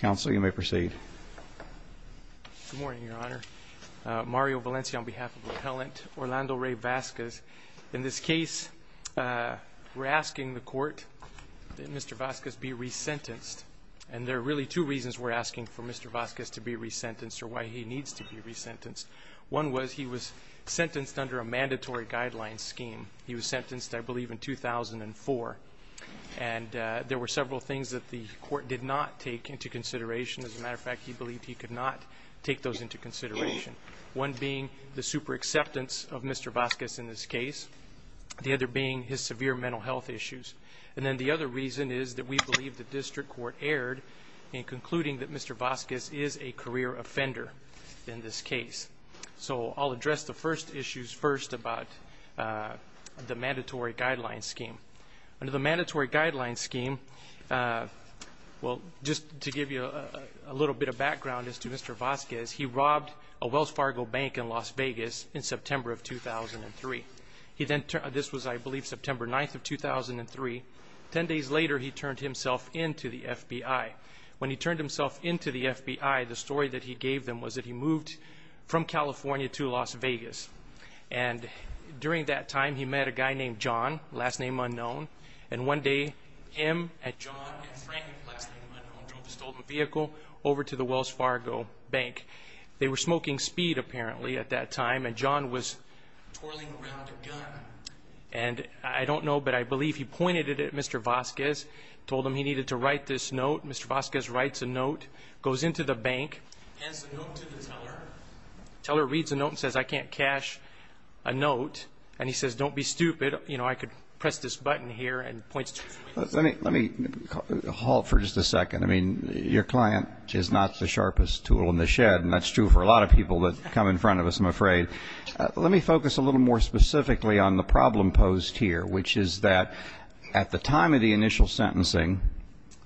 Counsel, you may proceed. Good morning, Your Honor. Mario Valencia on behalf of the appellant, Orlando Ray Vasquez. In this case, we're asking the court that Mr. Vasquez be re-sentenced. And there are really two reasons we're asking for Mr. Vasquez to be re-sentenced or why he needs to be re-sentenced. One was he was sentenced under a mandatory guidelines scheme. He was sentenced, I believe, in 2004. And there were several things that the court did not take into consideration. As a matter of fact, he believed he could not take those into consideration. One being the super acceptance of Mr. Vasquez in this case. The other being his severe mental health issues. And then the other reason is that we believe the district court erred in concluding that Mr. Vasquez is a career offender in this case. So I'll address the first issues first about the mandatory guidelines scheme. Under the mandatory guidelines scheme, well, just to give you a little bit of background as to Mr. Vasquez, he robbed a Wells Fargo bank in Las Vegas in September of 2003. This was, I believe, September 9th of 2003. Ten days later, he turned himself in to the FBI. When he turned himself in to the FBI, the story that he gave them was that he moved from California to Las Vegas. And one day, him, and John, and Frank, last thing you want to know, drove a stolen vehicle over to the Wells Fargo bank. They were smoking speed, apparently, at that time. And John was twirling around a gun. And I don't know, but I believe he pointed it at Mr. Vasquez, told him he needed to write this note. Mr. Vasquez writes a note, goes into the bank, hands the note to the teller. The teller reads the note and says, I can't cash a note. And he points to it. Let me halt for just a second. I mean, your client is not the sharpest tool in the shed, and that's true for a lot of people that come in front of us, I'm afraid. Let me focus a little more specifically on the problem posed here, which is that at the time of the initial sentencing,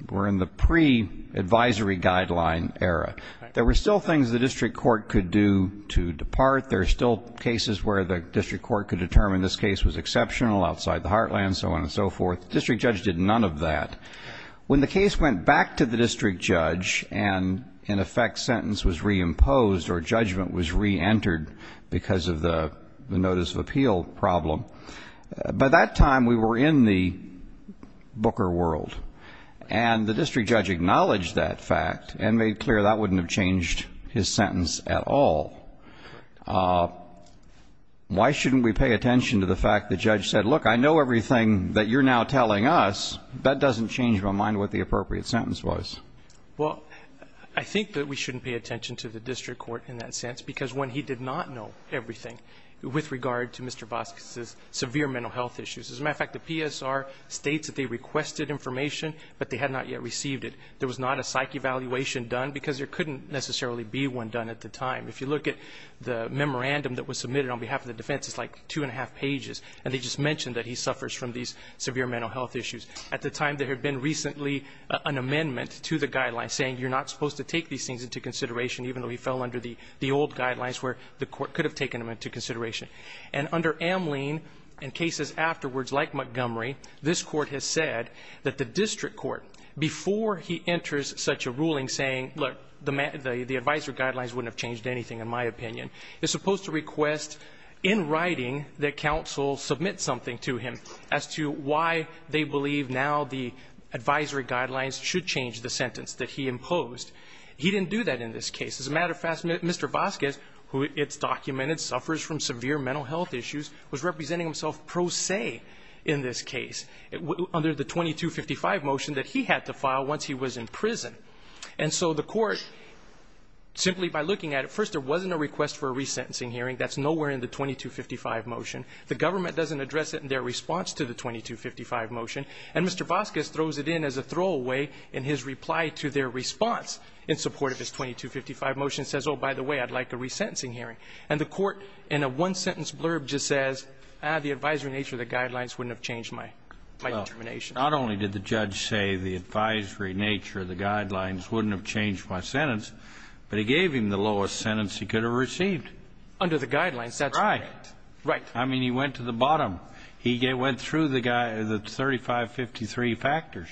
we're in the pre-advisory guideline era. There were still things the district court could do to depart. There are still cases where the district court could determine this case was exceptional, outside the heartland, so on and so forth. The district judge did none of that. When the case went back to the district judge and, in effect, sentence was re-imposed or judgment was re-entered because of the notice of appeal problem, by that time we were in the Booker world. And the district judge acknowledged that fact and made clear that wouldn't have changed his sentence at all. Why shouldn't we pay attention to the fact the judge said, look, I know everything that you're now telling us. That doesn't change my mind what the appropriate sentence was. Well, I think that we shouldn't pay attention to the district court in that sense because when he did not know everything with regard to Mr. Vasquez's severe mental health issues. As a matter of fact, the PSR states that they requested information, but they had not yet received it. There was not a psych evaluation done because there couldn't necessarily be one done at the time. If you look at the memorandum that was submitted on behalf of the defense, it's like two and a half pages, and they just mentioned that he suffers from these severe mental health issues. At the time, there had been recently an amendment to the guidelines saying you're not supposed to take these things into consideration even though he fell under the old guidelines where the court could have taken them into consideration. And under Amlene, in cases afterwards like Montgomery, this court has said that the district court, before he enters such a ruling saying, look, the advisory guidelines wouldn't have changed anything, in my opinion, is supposed to request in writing that counsel submit something to him as to why they believe now the advisory guidelines should change the sentence that he imposed. He didn't do that in this case. As a matter of fact, Mr. Vasquez, who it's documented suffers from severe mental health issues, was representing himself pro se in this case under the 2255 motion that he had to file once he was in prison. And so the court, simply by looking at it, first, there wasn't a request for a resentencing hearing. That's nowhere in the 2255 motion. The government doesn't address it in their response to the 2255 motion. And Mr. Vasquez throws it in as a throwaway in his reply to their response in support of his 2255 motion, says, oh, by the way, I'd like a resentencing hearing. And the court, in a one-sentence blurb, just says, ah, the advisory nature of the guidelines wouldn't have changed my determination. Not only did the judge say the advisory nature of the guidelines wouldn't have changed my sentence, but he gave him the lowest sentence he could have received. Under the guidelines, that's right. Right. I mean, he went to the bottom. He went through the 3553 factors.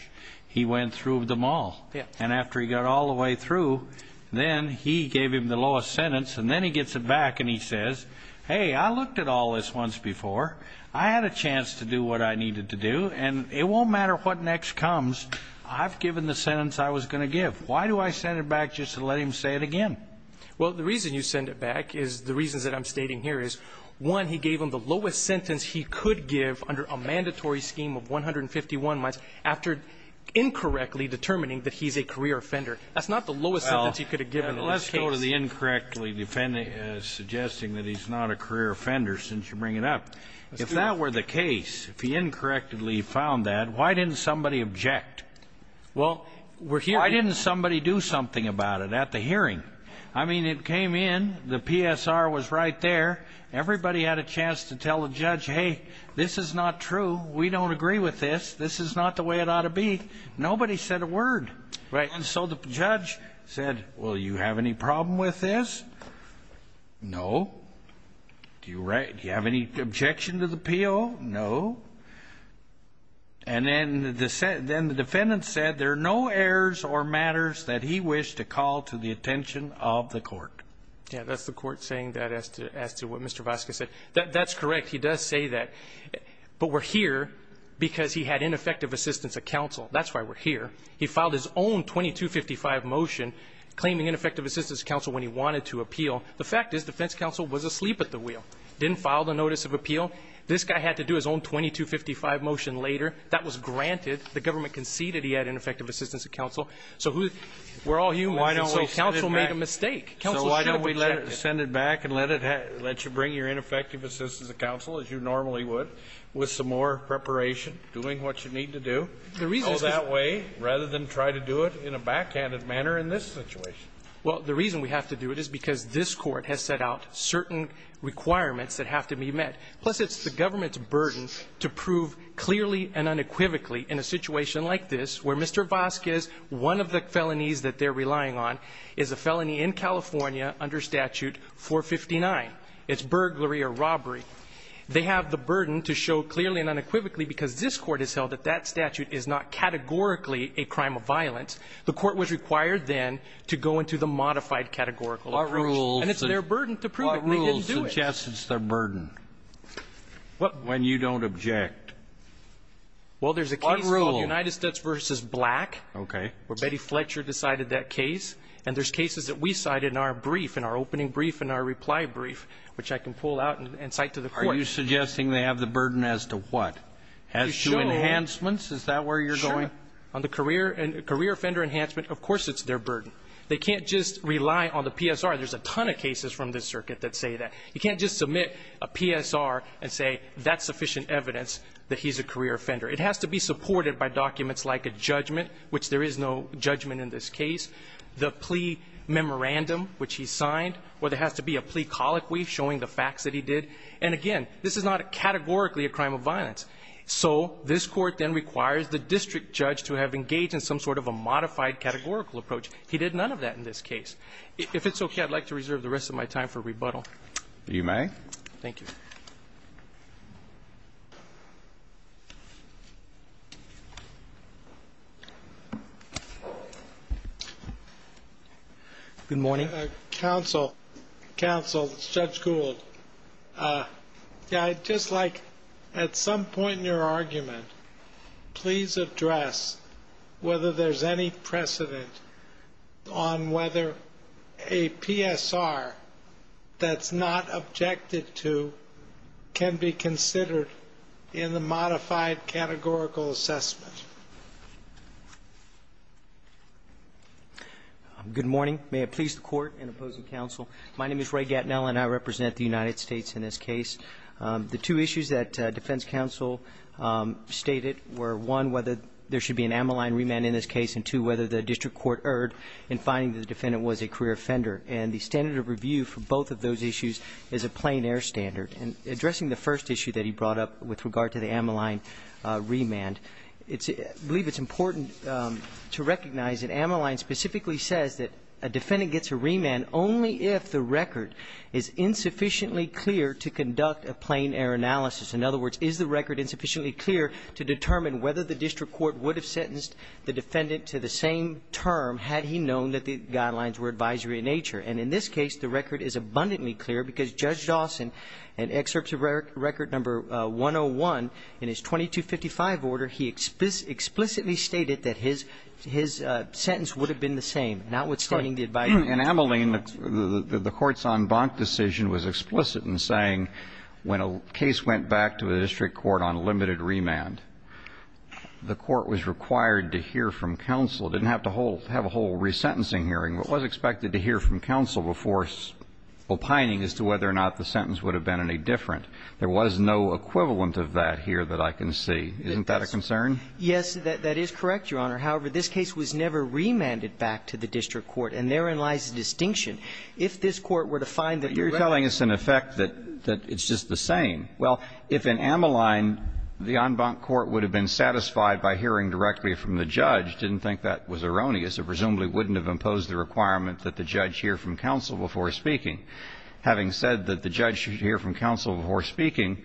He went through them all. Yes. And after he got all the way through, then he gave him the lowest sentence, and then he gets it back and he says, hey, I looked at all this once before. I had a chance to do what I needed to do, and it won't matter what next comes. I've given the sentence I was going to give. Why do I send it back just to let him say it again? Well, the reason you send it back is the reasons that I'm stating here is, one, he gave him the lowest sentence he could give under a mandatory scheme of 151 months after incorrectly determining that he's a career offender. That's not the lowest sentence he could have given in this case. Well, let's go to the incorrectly suggesting that he's not a career offender since you bring it up. If that were the case, if he incorrectly found that, why didn't somebody object? Well, we're here... Why didn't somebody do something about it at the hearing? I mean, it came in. The PSR was right there. Everybody had a chance to tell the judge, hey, this is not true. We don't agree with this. This is not the way it ought to be. Nobody said a word. Right. And so the judge said, well, you have any problem with this? No. Do you have any objection to the appeal? No. And then the defendant said, there are no errors or matters that he wished to call to the attention of the court. Yeah, that's the court saying that as to what Mr. Vasquez said. That's correct. He does say that. But we're here because he had ineffective assistance of counsel. That's why we're here. He filed his own 2255 motion claiming ineffective assistance of counsel when he wanted to appeal. The fact is, defense counsel was asleep at the wheel. Didn't file the notice of appeal. This guy had to do his own 2255 motion later. That was granted. The government conceded he had ineffective assistance of counsel. So we're all humans, and so counsel made a mistake. So why don't we send it back and let you bring your ineffective assistance of counsel, as you normally would, with some more preparation, doing what you need to do. Go that way, rather than try to do it in a backhanded manner in this situation. Well, the reason we have to do it is because this court has set out certain requirements that have to be met. Plus, it's the government's burden to prove clearly and unequivocally in a situation like this, where Mr. Vasquez, one of the felonies that they're relying on, is a felony in California under Statute 459. It's burglary or robbery. They have the burden to show clearly and unequivocally because this court has held that that statute is not categorically a crime of And it's their burden to prove it, and they didn't do it. What rules suggest it's their burden? What? When you don't object. Well, there's a case called United States v. Black. Okay. Where Betty Fletcher decided that case. And there's cases that we cite in our brief, in our opening brief, in our reply brief, which I can pull out and cite to the court. Are you suggesting they have the burden as to what? As to enhancements? Is that where you're going? Sure. On the career offender enhancement, of course it's their burden. They can't just rely on the PSR. There's a ton of cases from this circuit that say that. You can't just submit a PSR and say that's sufficient evidence that he's a career offender. It has to be supported by documents like a judgment, which there is no judgment in this case, the plea memorandum, which he signed, or there has to be a plea colloquy showing the facts that he did. And again, this is not categorically a crime of violence. So this court then requires the district judge to have engaged in some sort of a modified categorical approach. He did none of that in this case. If it's okay, I'd like to reserve the rest of my time for rebuttal. You may. Thank you. Good morning. Counsel, Judge Gould, I'd just like, at some point in your argument, please address whether there's any precedent on whether a PSR that's not objected to can be considered in the modified categorical assessment. Good morning. May it please the Court and opposing counsel, my name is Ray Gatineau and I represent the United States in this case. The two issues that I'd like to address are one, whether there should be an ammaline remand in this case, and two, whether the district court erred in finding that the defendant was a career offender. And the standard of review for both of those issues is a plain air standard. And addressing the first issue that he brought up with regard to the ammaline remand, I believe it's important to recognize that ammaline specifically says that a defendant gets a remand only if the record is insufficiently clear to conduct a plain air analysis. In other words, is the record insufficiently clear to determine whether the district court would have sentenced the defendant to the same term had he known that the guidelines were advisory in nature? And in this case, the record is abundantly clear because Judge Dawson, in excerpts of record number 101 in his 2255 order, he explicitly stated that his sentence would have been the same, notwithstanding the advisory. And ammaline, the court's en banc decision was explicit in saying when a case went back to a district court on limited remand, the court was required to hear from counsel, didn't have to have a whole resentencing hearing, but was expected to hear from counsel before opining as to whether or not the sentence would have been any different. There was no equivalent of that here that I can see. Isn't that a concern? Yes, that is correct, Your Honor. However, this case was never remanded back to the district court, and therein lies the distinction. If this court were to find that it was remanded back to the district court, it would have been the same. But you're telling us, in effect, that it's just the same. Well, if in ammaline the en banc court would have been satisfied by hearing directly from the judge, didn't think that was erroneous, it presumably wouldn't have imposed the requirement that the judge hear from counsel before speaking. Having said that the judge should hear from counsel before speaking,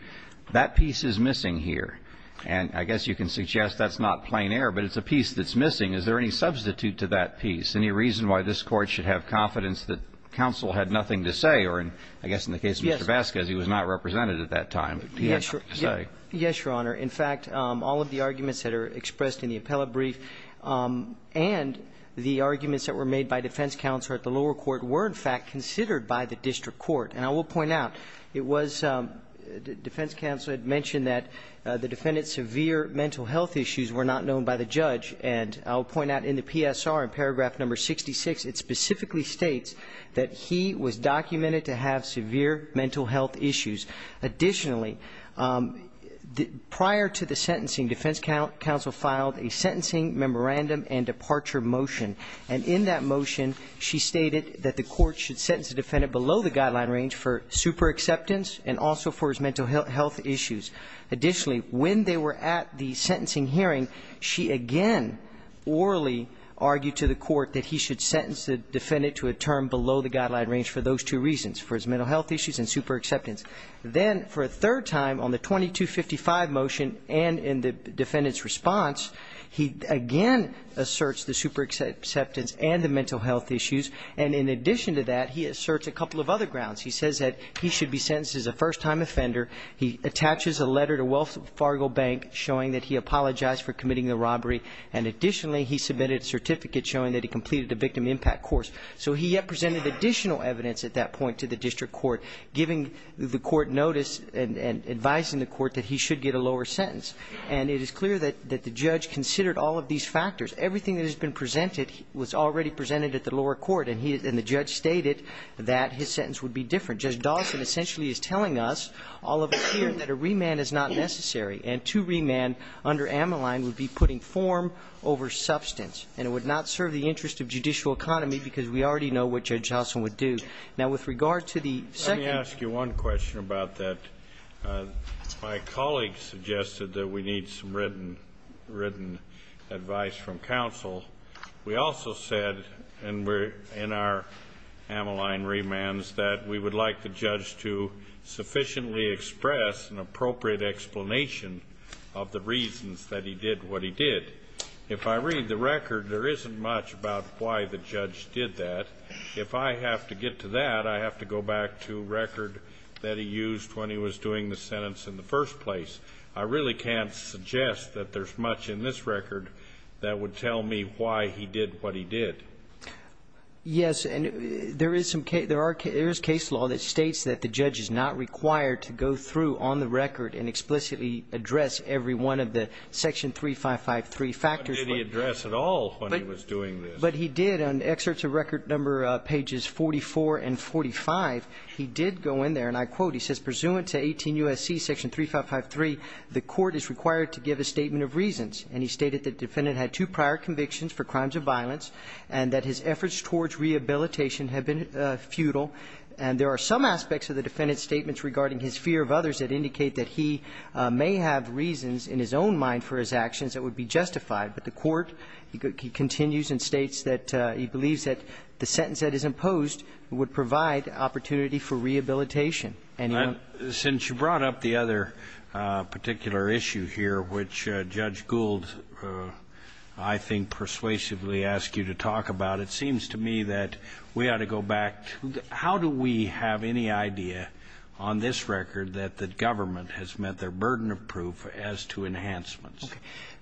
that piece is missing here. And I guess you can suggest that's not plain error, but it's a piece that's missing. Is there any substitute to that piece? Any reason why this Court should have confidence that counsel had nothing to say or, I guess in the case of Mr. Vasquez, he was not represented at that time. Yes, Your Honor. In fact, all of the arguments that are expressed in the appellate brief and the arguments that were made by defense counsel at the lower court were, in fact, considered by the district court. And I will point out, it was defense counsel had mentioned that the defendant's severe mental health issues were not known by the judge. And I will point out in the PSR, in paragraph number 66, it specifically states that he was documented to have severe mental health issues. Additionally, prior to the sentencing, defense counsel filed a sentencing memorandum and departure motion. And in that motion, she stated that the court should sentence the defendant below the guideline range for superexceptance and also for his mental health issues. Additionally, when they were at the sentencing hearing, she again orally argued to the court that he should sentence the defendant to a term below the guideline range for those two reasons, for his mental health issues and superexceptance. Then for a third time on the 2255 motion and in the defendant's response, he again asserts the superexceptance and the mental health issues. And in addition to that, he asserts a couple of other grounds. He says that he should be sentenced as a first-time offender. He attaches a letter to Wells Fargo Bank showing that he apologized for committing the robbery. And additionally, he submitted a certificate showing that he completed a victim impact course. So he yet presented additional evidence at that point to the district court, giving the court notice and advising the court that he should get a lower Now, Judge Dawson has stated that his sentence would be different. Judge Dawson essentially is telling us, all of us here, that a remand is not necessary. And to remand under Ammaline would be putting form over substance. And it would not serve the interest of judicial economy, because we already know what Judge Dawson would do. Now, with regard to the second ---- Let me ask you one question about that. My colleague suggested that we need some written advice from counsel. We also said in our Ammaline remands that we would like the judge to sufficiently express an appropriate explanation of the reasons that he did what he did. If I read the record, there isn't much about why the judge did that. If I have to get to that, I have to go back to record that he used when he was doing the sentence in the first place. I really can't suggest that there's much in this record that would tell me why he did what he did. Yes. And there is case law that states that the judge is not required to go through on the record and explicitly address every one of the section 3553 factors. But did he address at all when he was doing this? But he did. In excerpts of record number pages 44 and 45, he did go in there. And I quote, he says, ''Pursuant to 18 U.S.C. section 3553, the court is required to give a statement of reasons.'' And he stated that the defendant had two prior convictions for crimes of violence and that his efforts towards rehabilitation had been futile. And there are some aspects of the defendant's statements regarding his fear of others that indicate that he may have reasons in his own mind for his actions that would be justified. But the court continues and states that he believes that the sentence that is imposed would provide opportunity for rehabilitation. And since you brought up the other particular issue here, which Judge Gould, I think, persuasively asked you to talk about, it seems to me that we ought to go back to how do we have any idea on this record that the government has met their burden of proof as to enhancements?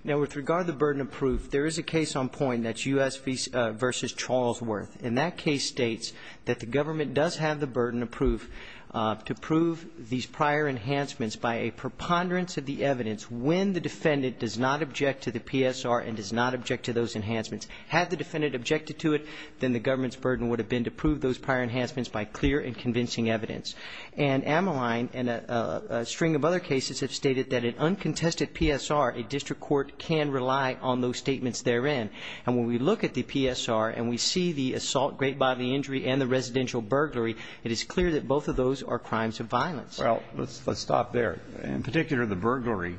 Now, with regard to the burden of proof, there is a case on point that's U.S. v. Charlesworth. And that case states that the government does have the burden of proof to prove these prior enhancements by a preponderance of the evidence when the defendant does not object to the PSR and does not object to those enhancements. Had the defendant objected to it, then the government's burden would have been to prove those prior enhancements by clear and convincing evidence. And Ameline and a string of other cases have stated that an uncontested PSR, a district court, can rely on those statements therein. And when we look at the PSR and we see the assault, great bodily injury, and the residential burglary, it is clear that both of those are crimes of violence. Well, let's stop there. In particular, the burglary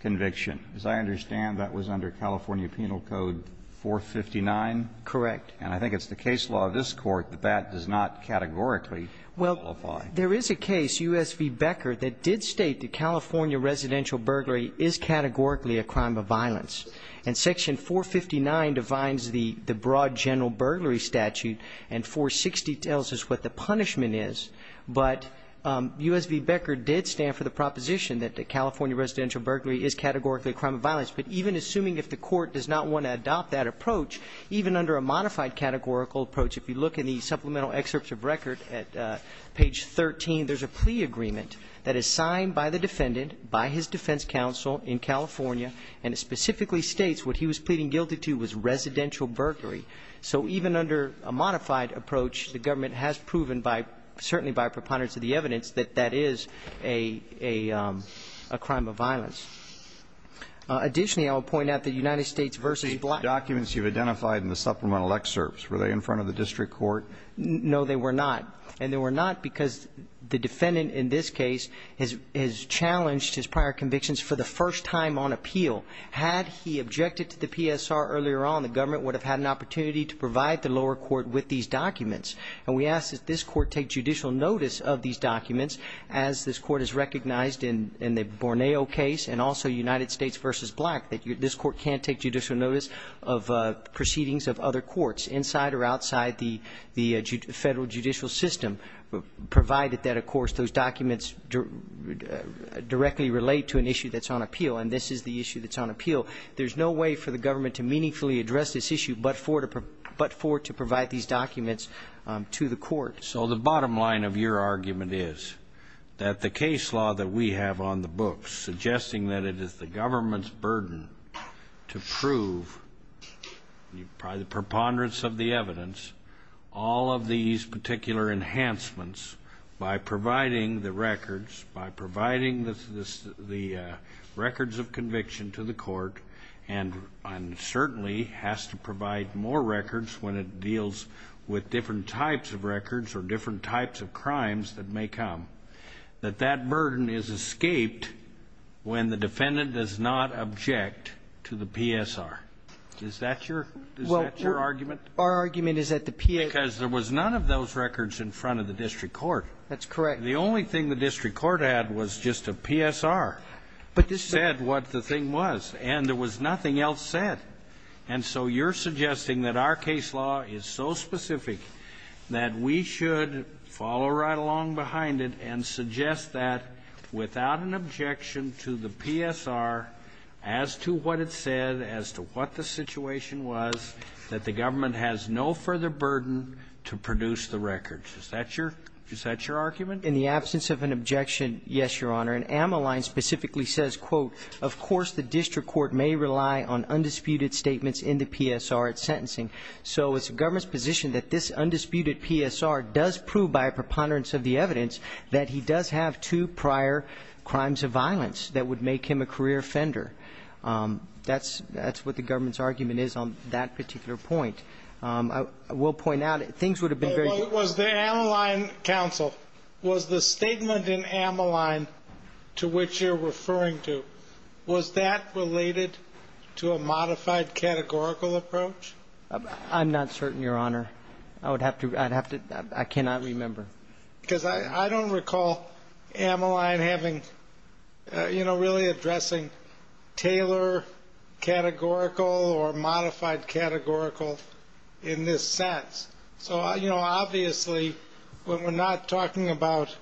conviction. As I understand, that was under California Penal Code 459? Correct. And I think it's the case law of this Court that that does not categorically qualify. Well, there is a case, U.S. v. Becker, that did state that California residential burglary is categorically a crime of violence. And Section 459 defines the broad general burglary statute, and 460 tells us what the punishment is. But U.S. v. Becker did stand for the proposition that the California residential burglary is categorically a crime of violence. But even assuming if the Court does not want to adopt that approach, even under a modified categorical approach, if you look in the supplemental excerpts of record at page 13, there's a plea agreement that is signed by the defendant, by his defense counsel in California, and it specifically states what he was pleading guilty to was residential burglary. So even under a modified approach, the government has proven, certainly by preponderance of the evidence, that that is a crime of violence. Additionally, I will point out that United States v. Black... The documents you've identified in the supplemental excerpts, were they in front of the district court? No, they were not. And they were not because the defendant in this case has challenged his prior convictions for the first time on appeal. Had he objected to the PSR earlier on, the government would have had an opportunity to provide the lower court with these documents. And we ask that this court take judicial notice of these documents, as this court has recognized in the Borneo case, and also United States v. Black, that this court can't take judicial notice of the federal judicial system, provided that, of course, those documents directly relate to an issue that's on appeal, and this is the issue that's on appeal. There's no way for the government to meaningfully address this issue but for it to provide these documents to the court. So the bottom line of your argument is that the case law that we have on the books, suggesting that it is the government's burden to prove, by the preponderance of the evidence, all of these particular enhancements by providing the records, by providing the records of conviction to the court, and certainly has to provide more records when it deals with different types of records or different types of crimes that may come, that that burden is escaped when the defendant does not object to the PSR. Is that your argument? Well, our argument is that the PSR ---- Because there was none of those records in front of the district court. That's correct. The only thing the district court had was just a PSR that said what the thing was, and there was nothing else said. And so you're suggesting that our case law is so specific that we should follow right along behind it and suggest that, without an objection to the PSR, as to what it said, as to what the situation was, that the government has no further burden to produce the records. Is that your ---- Is that your argument? In the absence of an objection, yes, Your Honor. And Amaline specifically says, quote, Of course the district court may rely on undisputed statements in the PSR at sentencing. So it's the government's position that this undisputed PSR does prove by a preponderance of the evidence that he does have two prior crimes of violence that would make him a career offender. That's what the government's argument is on that particular point. I will point out things would have been very ---- Was the Amaline counsel, was the statement in Amaline to which you're referring to, was that related to a modified categorical approach? I'm not certain, Your Honor. I would have to ---- I cannot remember. Because I don't recall Amaline having, you know, really addressing Taylor categorical or modified categorical in this sense. So, you know, obviously when we're not talking about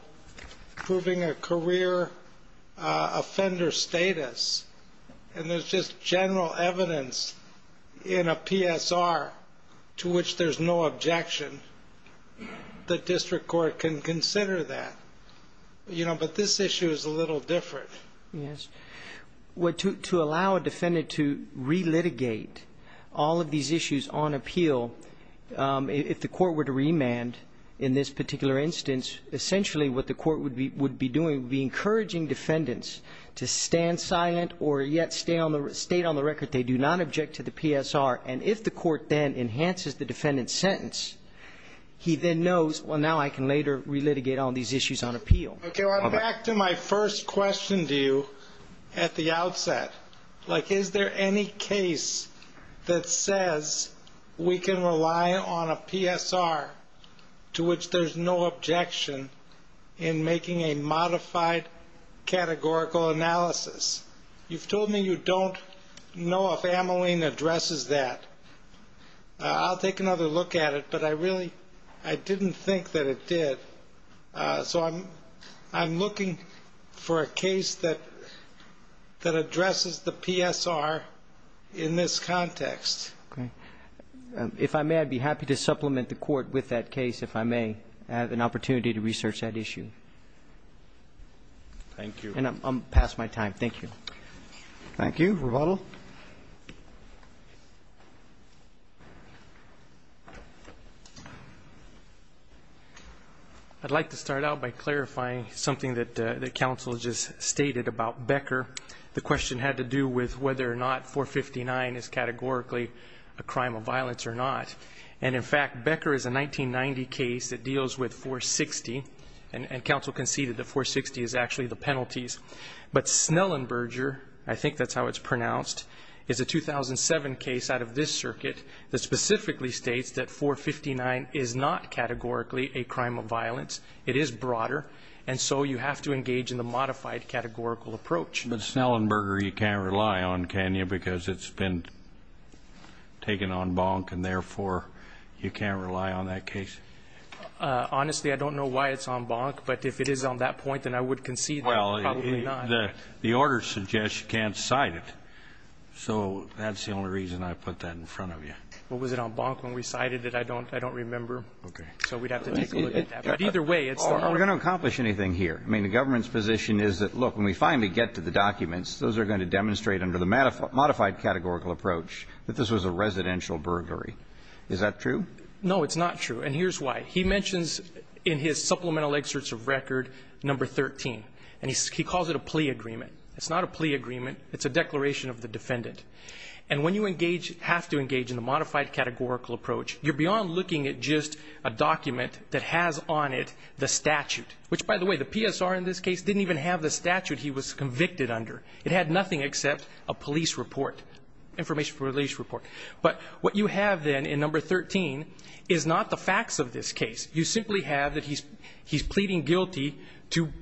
proving a career offender status, and there's just general evidence in a PSR to which there's no objection, the district court can consider that. You know, but this issue is a little different. Yes. To allow a defendant to relitigate all of these issues on appeal, if the court were to remand in this particular instance, essentially what the court would be doing would be encouraging defendants to stand silent or yet state on the record they do not object to the PSR. And if the court then enhances the defendant's sentence, he then knows, well, now I can later relitigate all these issues on appeal. Okay. Well, back to my first question to you at the outset. Like, is there any case that says we can rely on a PSR to which there's no objection in making a modified categorical analysis? You've told me you don't know if Ameline addresses that. I'll take another look at it, but I really didn't think that it did. So I'm looking for a case that addresses the PSR in this context. Okay. If I may, I'd be happy to supplement the court with that case, if I may, and have an opportunity to research that issue. Thank you. And I'm past my time. Thank you. Thank you. Roboto. I'd like to start out by clarifying something that counsel just stated about Becker. The question had to do with whether or not 459 is categorically a crime of violence or not. And, in fact, Becker is a 1990 case that deals with 460, and counsel conceded that 460 is actually the penalties. But Snellenberger, I think that's how it's pronounced, is a 2007 case out of this circuit that specifically states that 459 is not categorically a crime of violence. It is broader, and so you have to engage in the modified categorical approach. But Snellenberger you can't rely on, can you, because it's been taken en banc and, therefore, you can't rely on that case? Honestly, I don't know why it's en banc. But if it is on that point, then I would concede that it's probably not. Well, the order suggests you can't cite it. So that's the only reason I put that in front of you. Well, was it en banc when we cited it? I don't remember. Okay. So we'd have to take a look at that. But either way, it's the order. Are we going to accomplish anything here? I mean, the government's position is that, look, when we finally get to the documents, those are going to demonstrate under the modified categorical approach that this was a residential burglary. Is that true? No, it's not true. And here's why. He mentions in his supplemental excerpts of record number 13, and he calls it a plea agreement. It's not a plea agreement. It's a declaration of the defendant. And when you have to engage in the modified categorical approach, you're beyond looking at just a document that has on it the statute, which, by the way, the PSR in this case didn't even have the statute he was convicted under. It had nothing except a police report, information for police report. But what you have then in number 13 is not the facts of this case. You simply have that he's pleading guilty to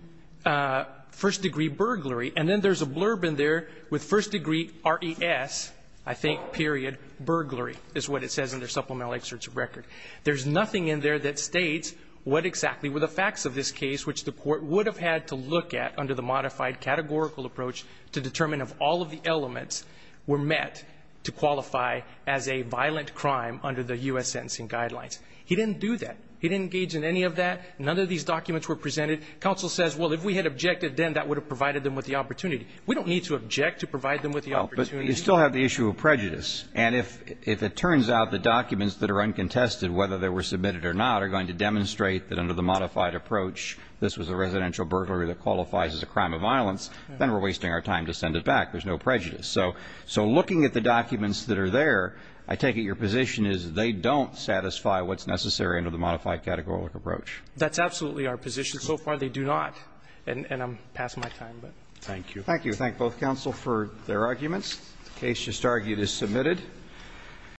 first-degree burglary. And then there's a blurb in there with first-degree RES, I think, period, burglary, is what it says in the supplemental excerpts of record. There's nothing in there that states what exactly were the facts of this case, which the Court would have had to look at under the modified categorical approach to determine if all of the elements were met to qualify as a violent crime under the U.S. sentencing guidelines. He didn't do that. He didn't engage in any of that. None of these documents were presented. Counsel says, well, if we had objected then, that would have provided them with the opportunity. We don't need to object to provide them with the opportunity. But you still have the issue of prejudice. And if it turns out the documents that are uncontested, whether they were submitted or not, are going to demonstrate that under the modified approach, this was a residential burglary that qualifies as a crime of violence, then we're wasting our time to send it back. There's no prejudice. So looking at the documents that are there, I take it your position is they don't satisfy what's necessary under the modified categorical approach. That's absolutely our position. So far they do not. And I'm past my time. Thank you. Thank you. I thank both counsel for their arguments. The case just argued is submitted.